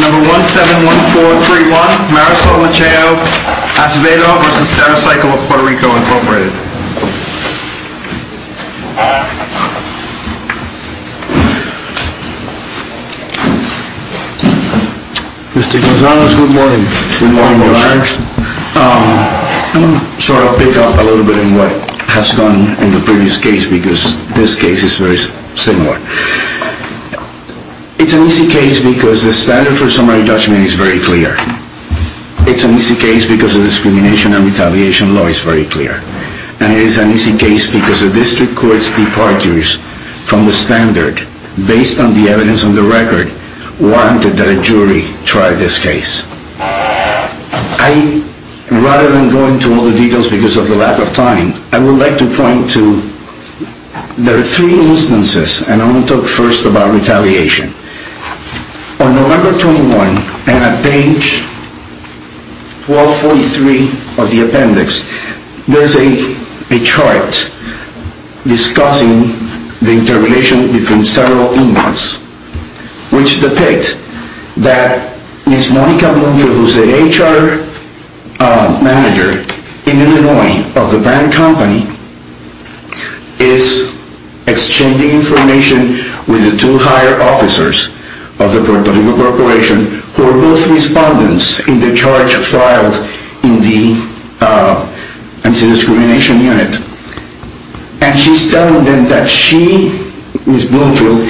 Number 171431, Marisol Macheo-Acevedo v. Stericycle of Puerto Rico, Inc. Mr. Gonzalez, good morning. Good morning, guys. I'm going to try to pick up a little bit on what has gone on in the previous case because this case is very similar. It's an easy case because the standard for summary judgment is very clear. It's an easy case because the discrimination and retaliation law is very clear. And it is an easy case because the district court's departures from the standard based on the evidence on the record warranted that a jury try this case. I, rather than go into all the details because of the lack of time, I would like to point to there are three instances and I'm going to talk first about retaliation. On November 21 and at page 1243 of the appendix, there's a chart discussing the interrelation between several emails which depict that Ms. Monica Bloomfield, who's the HR manager in Illinois of the brand company, is exchanging information with the two higher officers of the Puerto Rico corporation who are both respondents in the charge filed in the anti-discrimination unit. And she's telling them that she, Ms. Bloomfield,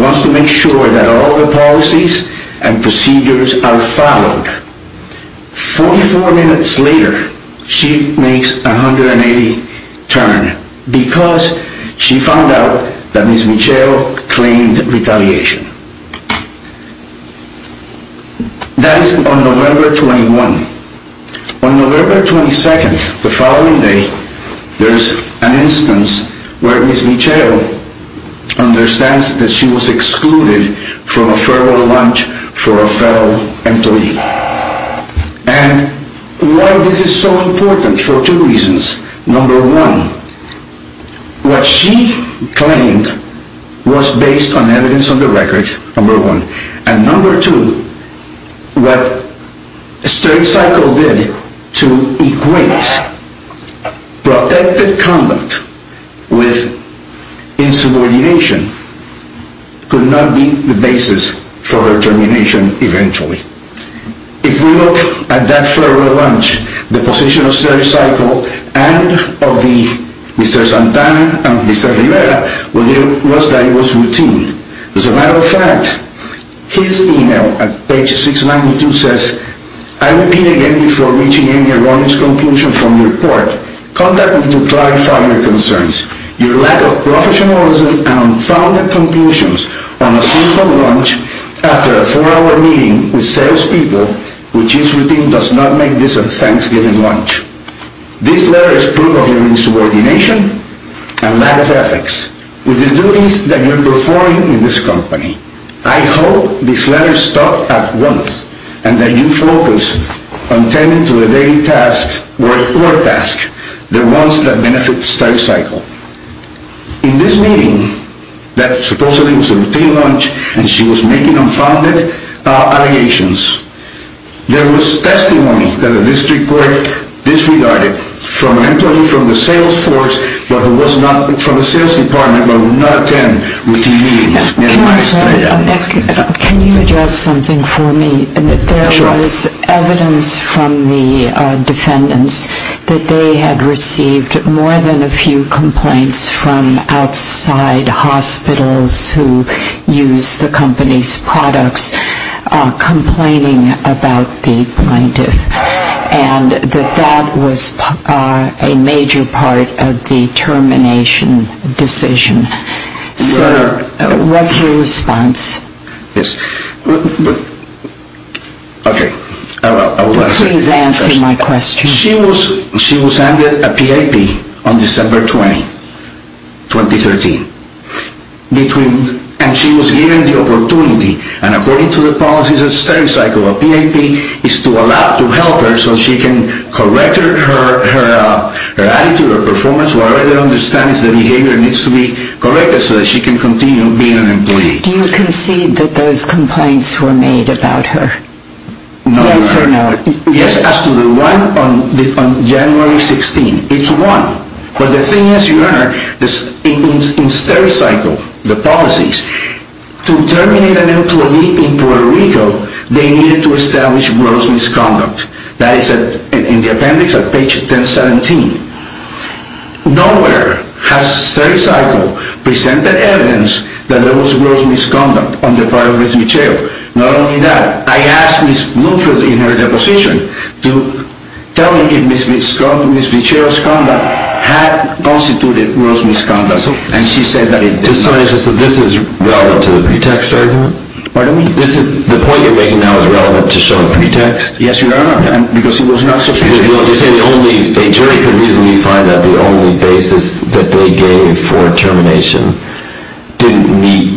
wants to make sure that all the policies and procedures are followed. 44 minutes later, she makes a 180 turn because she found out that Ms. Michelle claimed retaliation. That is on November 21. On November 22, the following day, there's an instance where Ms. Michelle understands that she was excluded from a federal lunch for a federal employee. And why this is so important, for two reasons. Number one, what she claimed was based on evidence on the record, number one. And number two, what Steric Cycle did to equate protective conduct with insubordination could not be the basis for her termination eventually. If we look at that federal lunch, the position of Steric Cycle and of Mr. Santana and Mr. Rivera was that it was routine. As a matter of fact, his email at page 692 says, I repeat again before reaching any erroneous conclusion from your report, contact me to clarify your concerns. Your lack of professionalism and unfounded conclusions on a simple lunch after a four-hour meeting with salespeople which is routine does not make this a thanksgiving lunch. This letter is proof of your insubordination and lack of ethics. With the duties that you are performing in this company, I hope this letter stops at once and that you focus on attending to the daily tasks or work tasks, the ones that benefit Steric Cycle. In this meeting, that supposedly was a routine lunch and she was making unfounded allegations, there was testimony that the district court disregarded from an employee from the sales force but who was not from the sales department but who did not attend routine meetings. Can you address something for me? There was evidence from the defendants that they had received more than a few complaints from outside hospitals who used the company's products complaining about the plaintiff and that that was a major part of the termination decision. What's your response? Please answer my question. She was handed a PAP on December 20, 2013 and she was given the opportunity and according to the policies of Steric Cycle, a PAP is to allow, to help her so she can correct her attitude or performance, whatever they understand is the behavior needs to be corrected so that she can continue being an employee. Do you concede that those complaints were made about her? No, Your Honor. Yes or no? Yes, as to the one on January 16. It's one. But the thing is, Your Honor, in Steric Cycle, the policies, to terminate an employee in Puerto Rico, they needed to establish gross misconduct. That is in the appendix at page 1017. Nowhere has Steric Cycle presented evidence that there was gross misconduct on the part of Ms. Michell. Not only that, I asked Ms. Bloomfield in her deposition to tell me if Ms. Michell's conduct had constituted gross misconduct. And she said that it did not. So this is relevant to the pretext argument? Pardon me? The point you're making now is relevant to showing pretext? Yes, Your Honor, because it was not sufficient. You say a jury could reasonably find that the only basis that they gave for termination didn't meet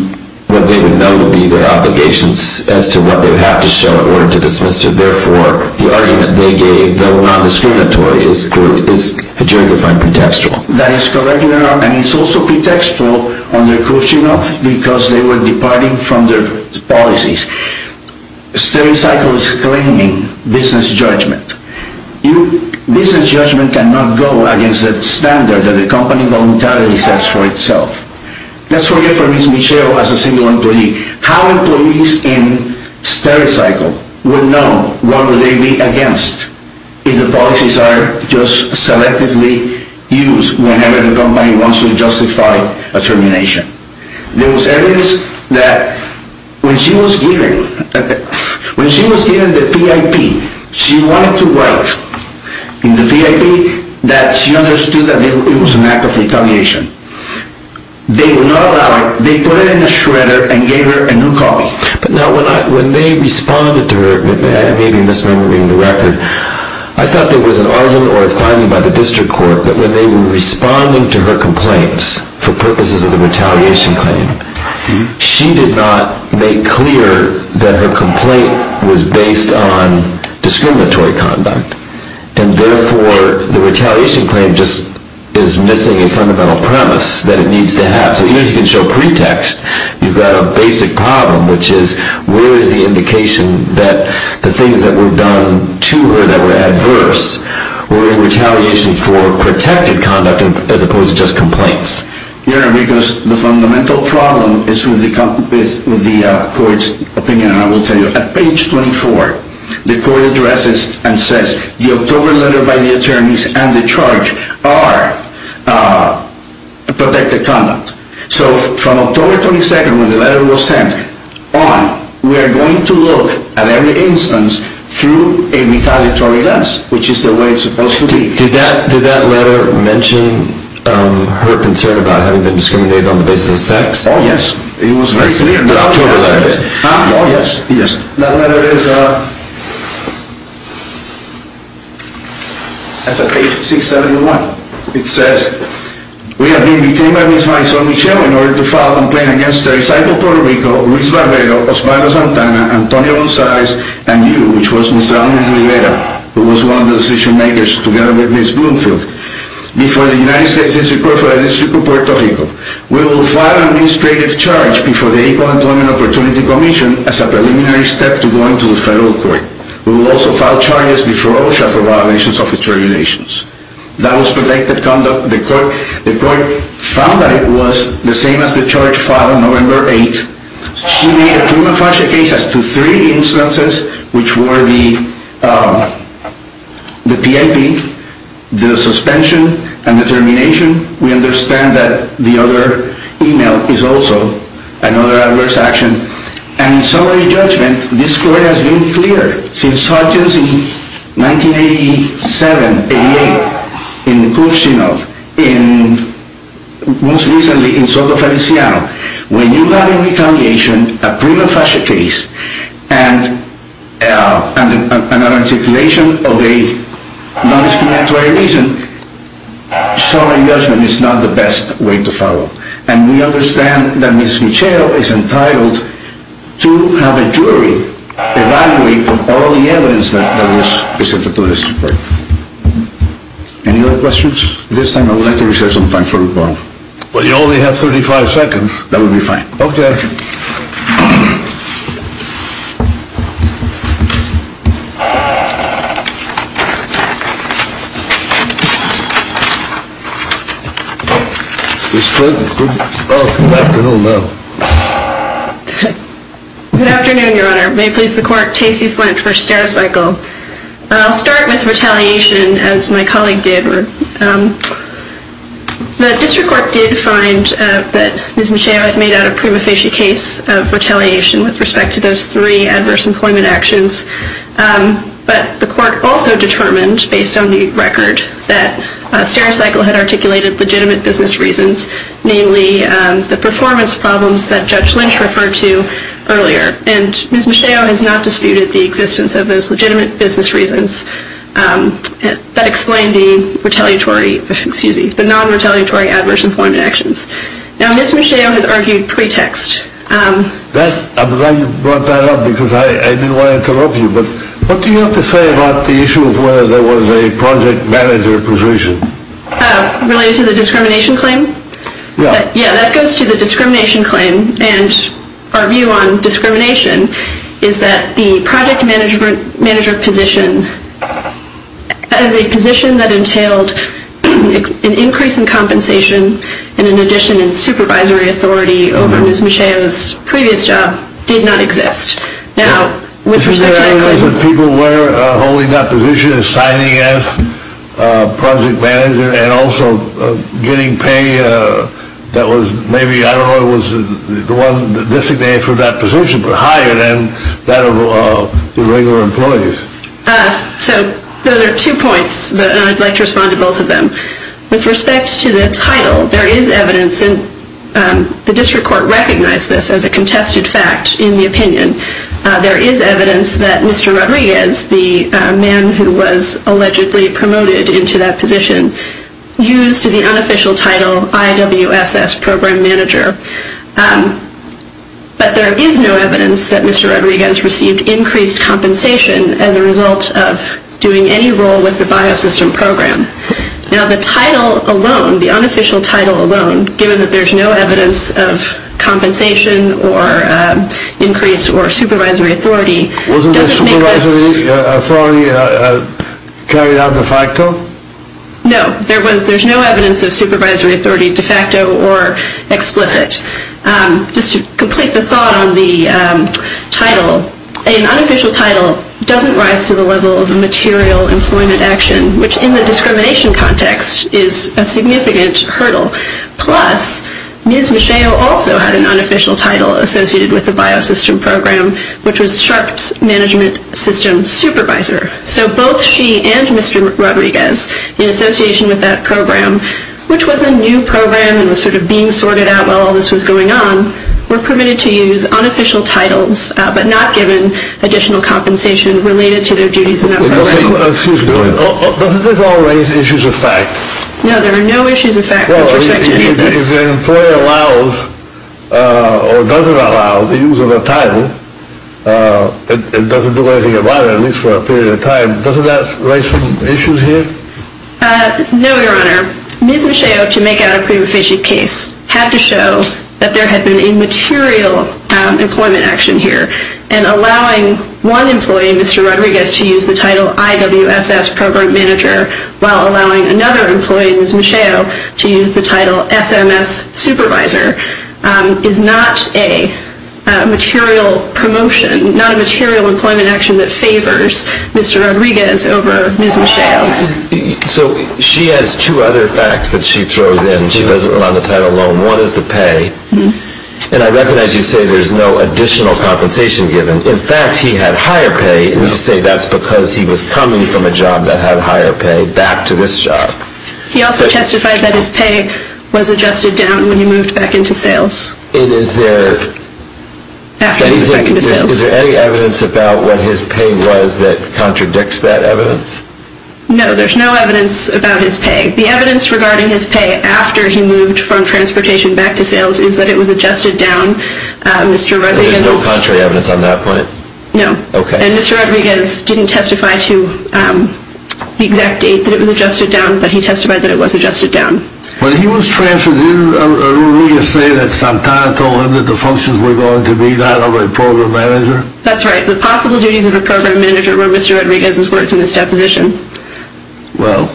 what they would know to be their obligations as to what they would have to show in order to dismiss her. Therefore, the argument they gave, though non-discriminatory, is a jury-defined pretextual. That is correct, Your Honor. And it's also pretextual on their coaching of, because they were departing from their policies. Steric Cycle is claiming business judgment. Business judgment cannot go against a standard that the company voluntarily sets for itself. Let's forget for Ms. Michell as a single employee. How employees in Steric Cycle would know what would they be against if the policies are just selectively used whenever the company wants to justify a termination? There was evidence that when she was given the PIP, she wanted to write in the PIP that she understood that it was an act of retaliation. They would not allow it. They put it in a shredder and gave her a new copy. Now, when they responded to her, I may be misremembering the record, I thought there was an argument or a finding by the district court that when they were responding to her complaints for purposes of the retaliation claim, she did not make clear that her complaint was based on discriminatory conduct. And therefore, the retaliation claim just is missing a fundamental premise that it needs to have. So even if you can show pretext, you've got a basic problem, which is where is the indication that the things that were done to her that were adverse were in retaliation for protected conduct as opposed to just complaints? Yes, because the fundamental problem is with the court's opinion. I will tell you, at page 24, the court addresses and says the October letter by the attorneys and the charge are protected conduct. So from October 22nd, when the letter was sent on, we are going to look at every instance through a retaliatory lens, which is the way it's supposed to be. Did that letter mention her concern about having been discriminated on the basis of sex? Oh, yes. It was very clear in the October letter. Oh, yes, yes. That letter is at page 671. It says, we have been detained by Ms. Maisel-Michel in order to file a complaint against the recycled Puerto Rico, Luis Barredo, Osvaldo Santana, Antonio Gonzalez and you, who was one of the decision-makers together with Ms. Bloomfield, before the United States District Court for the District of Puerto Rico. We will file an administrative charge before the Equal Employment Opportunity Commission as a preliminary step to going to the federal court. We will also file charges before OSHA for violations of its regulations. That was protected conduct. The court found that it was the same as the charge filed on November 8th. She made a prima facie case as to three instances, which were the PIP, the suspension, and the termination. We understand that the other email is also another adverse action. And in summary judgment, this court has been clear. Since charges in 1987, 88, in Kurshinov, in most recently in Soto Feliciano, when you have in retaliation a prima facie case and an articulation of a non-explanatory reason, summary judgment is not the best way to follow. And we understand that Ms. Michel is entitled to have a jury evaluate all the evidence that was presented to the district court. Any other questions? At this time I would like to reserve some time for rebuttal. But you only have 35 seconds. That would be fine. Okay. Ms. Flint, good afternoon. Good afternoon, Your Honor. May it please the court, Tacey Flint for Stereocycle. I'll start with retaliation, as my colleague did. The district court did find that Ms. Michel had made out a prima facie case of retaliation with respect to those three adverse employment actions. But the court also determined, based on the record, that Stereocycle had articulated legitimate business reasons, namely the performance problems that Judge Lynch referred to earlier. And Ms. Michel has not disputed the existence of those legitimate business reasons. That explained the non-retaliatory adverse employment actions. Now Ms. Michel has argued pretext. I'm glad you brought that up because I didn't want to interrupt you. But what do you have to say about the issue of whether there was a project manager position? Related to the discrimination claim? Yeah. That goes to the discrimination claim. And our view on discrimination is that the project manager position, as a position that entailed an increase in compensation and an addition in supervisory authority over Ms. Michel's previous job, did not exist. Is there evidence that people were holding that position, signing as project manager, and also getting pay that was maybe, I don't know if it was the one designated for that position, but higher than that of the regular employees? So there are two points, and I'd like to respond to both of them. With respect to the title, there is evidence, and the district court recognized this as a contested fact in the opinion, there is evidence that Mr. Rodriguez, the man who was allegedly promoted into that position, used the unofficial title IWSS program manager. But there is no evidence that Mr. Rodriguez received increased compensation as a result of doing any role with the biosystem program. Now the title alone, the unofficial title alone, given that there's no evidence of compensation or increase or supervisory authority, doesn't make this... Wasn't the supervisory authority carried out de facto? No, there's no evidence of supervisory authority de facto or explicit. Just to complete the thought on the title, an unofficial title doesn't rise to the level of a material employment action, which in the discrimination context is a significant hurdle. Plus, Ms. Macheo also had an unofficial title associated with the biosystem program, which was Sharpe's management system supervisor. So both she and Mr. Rodriguez, in association with that program, which was a new program and was sort of being sorted out while all this was going on, were permitted to use unofficial titles, but not given additional compensation related to their duties in that program. Excuse me, doesn't this all raise issues of fact? No, there are no issues of fact with respect to any of this. If the employer allows or doesn't allow the use of a title, it doesn't do anything about it, at least for a period of time, doesn't that raise some issues here? No, Your Honor. Ms. Macheo, to make out a pre-proficient case, had to show that there had been a material employment action here. And allowing one employee, Mr. Rodriguez, to use the title IWSS Program Manager, while allowing another employee, Ms. Macheo, to use the title SMS Supervisor, is not a material promotion, not a material employment action that favors Mr. Rodriguez over Ms. Macheo. So she has two other facts that she throws in. She doesn't allow the title loan. One is the pay. And I recognize you say there's no additional compensation given. In fact, he had higher pay, and you say that's because he was coming from a job that had higher pay back to this job. He also testified that his pay was adjusted down when he moved back into sales. And is there any evidence about what his pay was that contradicts that evidence? No, there's no evidence about his pay. The evidence regarding his pay after he moved from transportation back to sales is that it was adjusted down. There's no contrary evidence on that point? No. Okay. And Mr. Rodriguez didn't testify to the exact date that it was adjusted down, but he testified that it was adjusted down. When he was transferred, didn't Rodriguez say that sometime told him that the functions were going to be that of a program manager? That's right. The possible duties of a program manager were Mr. Rodriguez's words in his deposition. Well.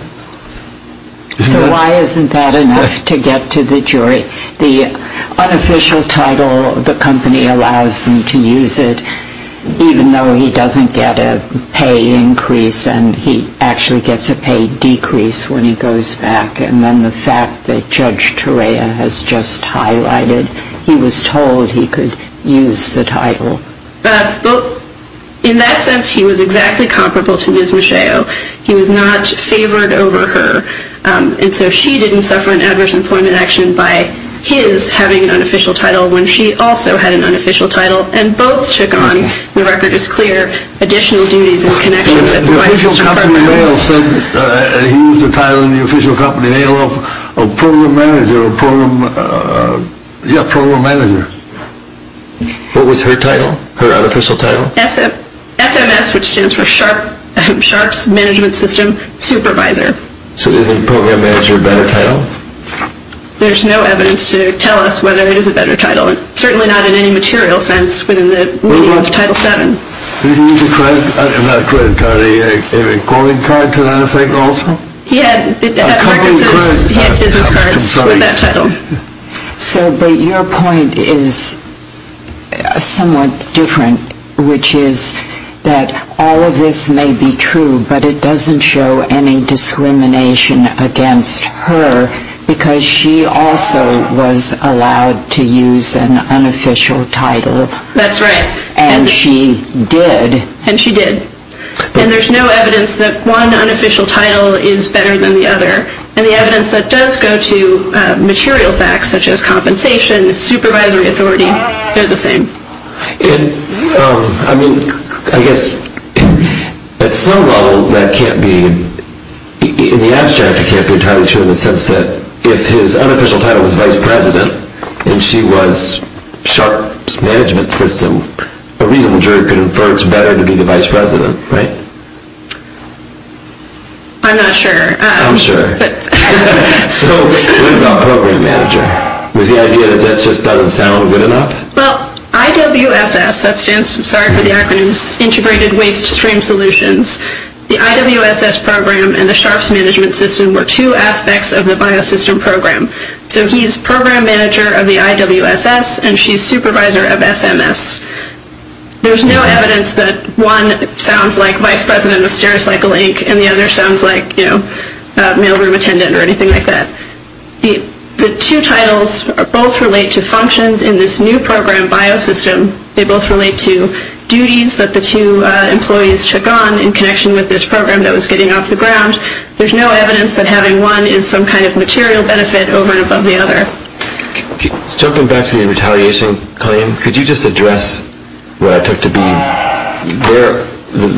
So why isn't that enough to get to the jury? The unofficial title of the company allows them to use it, even though he doesn't get a pay increase and he actually gets a pay decrease when he goes back. And then the fact that Judge Torea has just highlighted, he was told he could use the title. Well, in that sense, he was exactly comparable to Ms. Macheo. He was not favored over her. And so she didn't suffer an adverse employment action by his having an unofficial title when she also had an unofficial title. And both took on, the record is clear, additional duties in connection with the White House Department of Labor. Ms. Macheo said that he used the title in the official company name of a program manager. What was her title? Her unofficial title? SMS, which stands for Sharpe's Management System Supervisor. So isn't program manager a better title? There's no evidence to tell us whether it is a better title. Certainly not in any material sense within the meaning of Title VII. Did he use a credit card, a recording card to that effect also? He had business cards with that title. So, but your point is somewhat different, which is that all of this may be true, but it doesn't show any discrimination against her, because she also was allowed to use an unofficial title. That's right. And she did. And she did. And there's no evidence that one unofficial title is better than the other. And the evidence that does go to material facts, such as compensation, supervisory authority, they're the same. And, I mean, I guess at some level that can't be, in the abstract it can't be entirely true in the sense that if his unofficial title was vice president and she was Sharpe's Management System, a reasonable jury could infer it's better to be the vice president, right? I'm not sure. I'm sure. But... So what about program manager? Was the idea that that just doesn't sound good enough? Well, IWSS, that stands, sorry for the acronyms, Integrated Waste Stream Solutions, the IWSS program and the Sharpe's Management System were two aspects of the biosystem program. So he's program manager of the IWSS and she's supervisor of SMS. There's no evidence that one sounds like vice president of Stericycle, Inc. and the other sounds like, you know, mailroom attendant or anything like that. The two titles both relate to functions in this new program biosystem. They both relate to duties that the two employees took on in connection with this program that was getting off the ground. There's no evidence that having one is some kind of material benefit over and above the other. Jumping back to the retaliation claim, could you just address what I took to be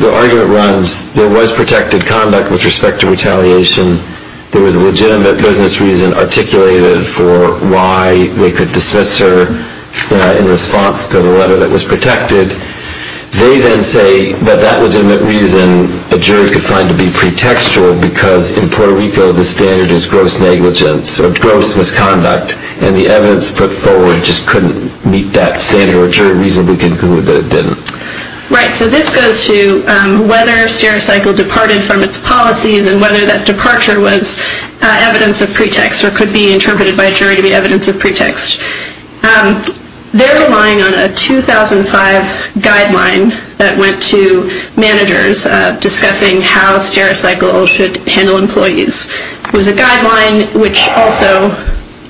the argument runs, there was protected conduct with respect to retaliation. There was a legitimate business reason articulated for why they could dismiss her in response to the letter that was protected. They then say that that legitimate reason a jury could find to be pretextual because in Puerto Rico the standard is gross negligence or gross misconduct and the evidence put forward just couldn't meet that standard or a jury reasonably concluded that it didn't. Right, so this goes to whether Stericycle departed from its policies and whether that departure was evidence of pretext or could be interpreted by a jury to be evidence of pretext. They're relying on a 2005 guideline that went to managers discussing how Stericycle should handle employees. It was a guideline which also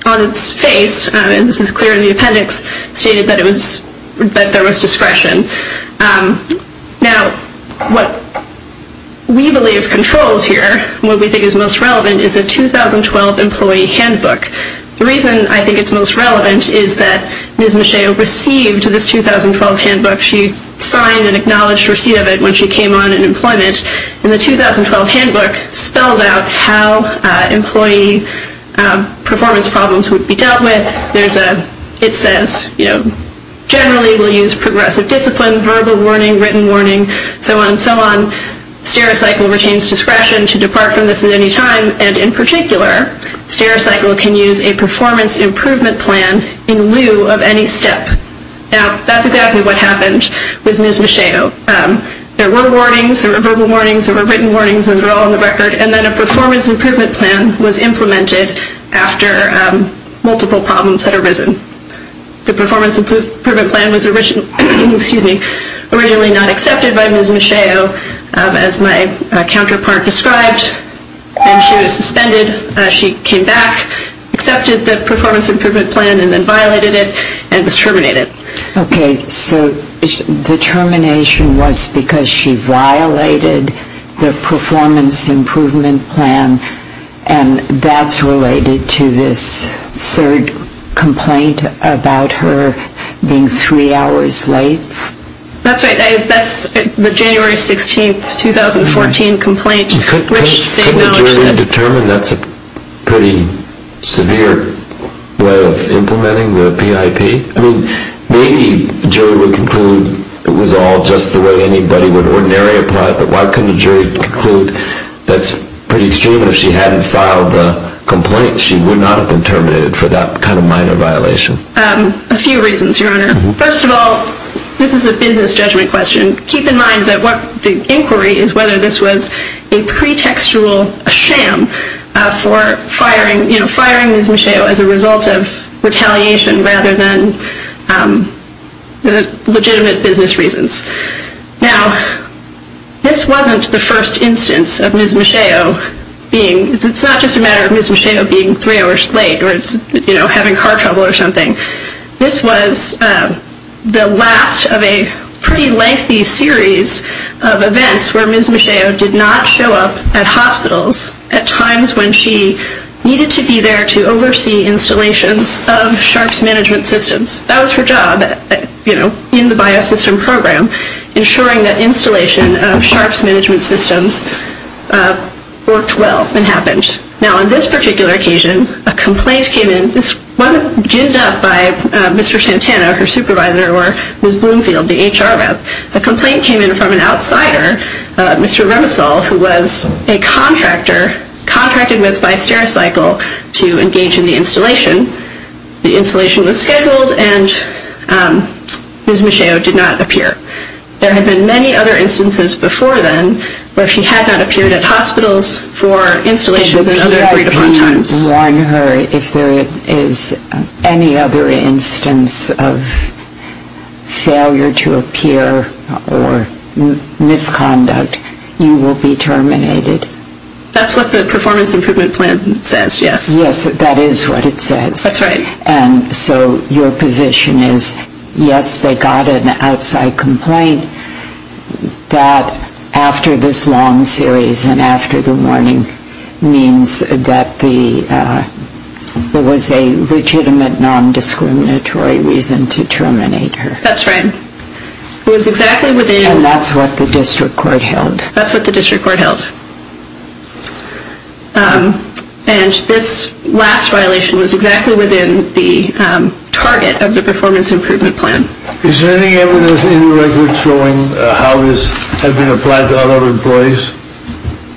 on its face, and this is clear in the appendix, stated that there was discretion. Now what we believe controls here, what we think is most relevant, is a 2012 employee handbook. The reason I think it's most relevant is that Ms. Macheu received this 2012 handbook. She signed and acknowledged receipt of it when she came on in employment. And the 2012 handbook spells out how employee performance problems would be dealt with. It says generally we'll use progressive discipline, verbal warning, written warning, so on and so on. Stericycle retains discretion to depart from this at any time and in particular Stericycle can use a performance improvement plan in lieu of any step. Now that's exactly what happened with Ms. Macheu. There were warnings, there were verbal warnings, there were written warnings, those are all on the record, and then a performance improvement plan was implemented after multiple problems had arisen. The performance improvement plan was originally not accepted by Ms. Macheu, as my counterpart described, and she was suspended. She came back, accepted the performance improvement plan and then violated it and was terminated. Okay, so the termination was because she violated the performance improvement plan and that's related to this third complaint about her being three hours late? That's right, that's the January 16, 2014 complaint. Couldn't a jury determine that's a pretty severe way of implementing the PIP? I mean, maybe a jury would conclude it was all just the way anybody would ordinarily apply it, but why couldn't a jury conclude that's pretty extreme? If she hadn't filed the complaint, she would not have been terminated for that kind of minor violation. A few reasons, Your Honor. First of all, this is a business judgment question. Keep in mind that the inquiry is whether this was a pretextual sham for firing Ms. Macheu as a result of retaliation rather than legitimate business reasons. Now, this wasn't the first instance of Ms. Macheu being, it's not just a matter of Ms. Macheu being three hours late or having car trouble or something. This was the last of a pretty lengthy series of events where Ms. Macheu did not show up at hospitals at times when she needed to be there to oversee installations of sharps management systems. That was her job, you know, in the biosystem program, ensuring that installation of sharps management systems worked well and happened. Now, on this particular occasion, a complaint came in. This wasn't jibbed up by Mr. Santana, her supervisor, or Ms. Bloomfield, the HR rep. The complaint came in from an outsider, Mr. Remisal, who was a contractor contracted with by Stericycle to engage in the installation. The installation was scheduled and Ms. Macheu did not appear. There had been many other instances before then where she had not appeared at hospitals for installations and other three to four times. Did the VIP warn her if there is any other instance of failure to appear or misconduct, you will be terminated? That's what the performance improvement plan says, yes. Yes, that is what it says. That's right. And so your position is, yes, they got an outside complaint, that after this long series and after the warning means that there was a legitimate non-discriminatory reason to terminate her. That's right. It was exactly within... And that's what the district court held. That's what the district court held. And this last violation was exactly within the target of the performance improvement plan. Is there any evidence in the record showing how this has been applied to other employees?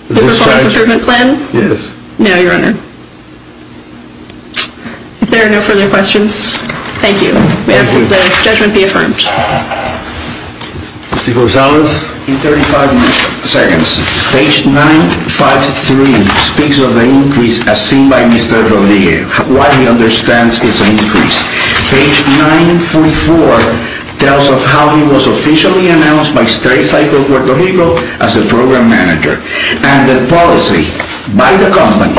The performance improvement plan? Yes. No, Your Honor. If there are no further questions, thank you. Thank you. May the judgment be affirmed. Mr. Gonzalez? In 35 seconds, page 953 speaks of an increase as seen by Mr. Rodriguez. What he understands is an increase. Page 944 tells of how he was officially announced by StereoCycle Puerto Rico as a program manager. And the policy by the company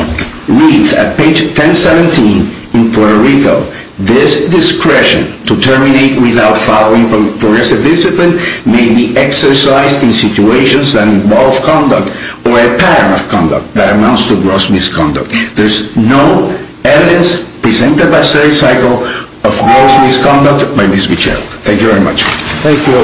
reads at page 1017 in Puerto Rico, this discretion to terminate without following progressive discipline may be exercised in situations that involve conduct or a pattern of conduct that amounts to gross misconduct. There is no evidence presented by StereoCycle of gross misconduct by Ms. Mitchell. Thank you very much. Thank you.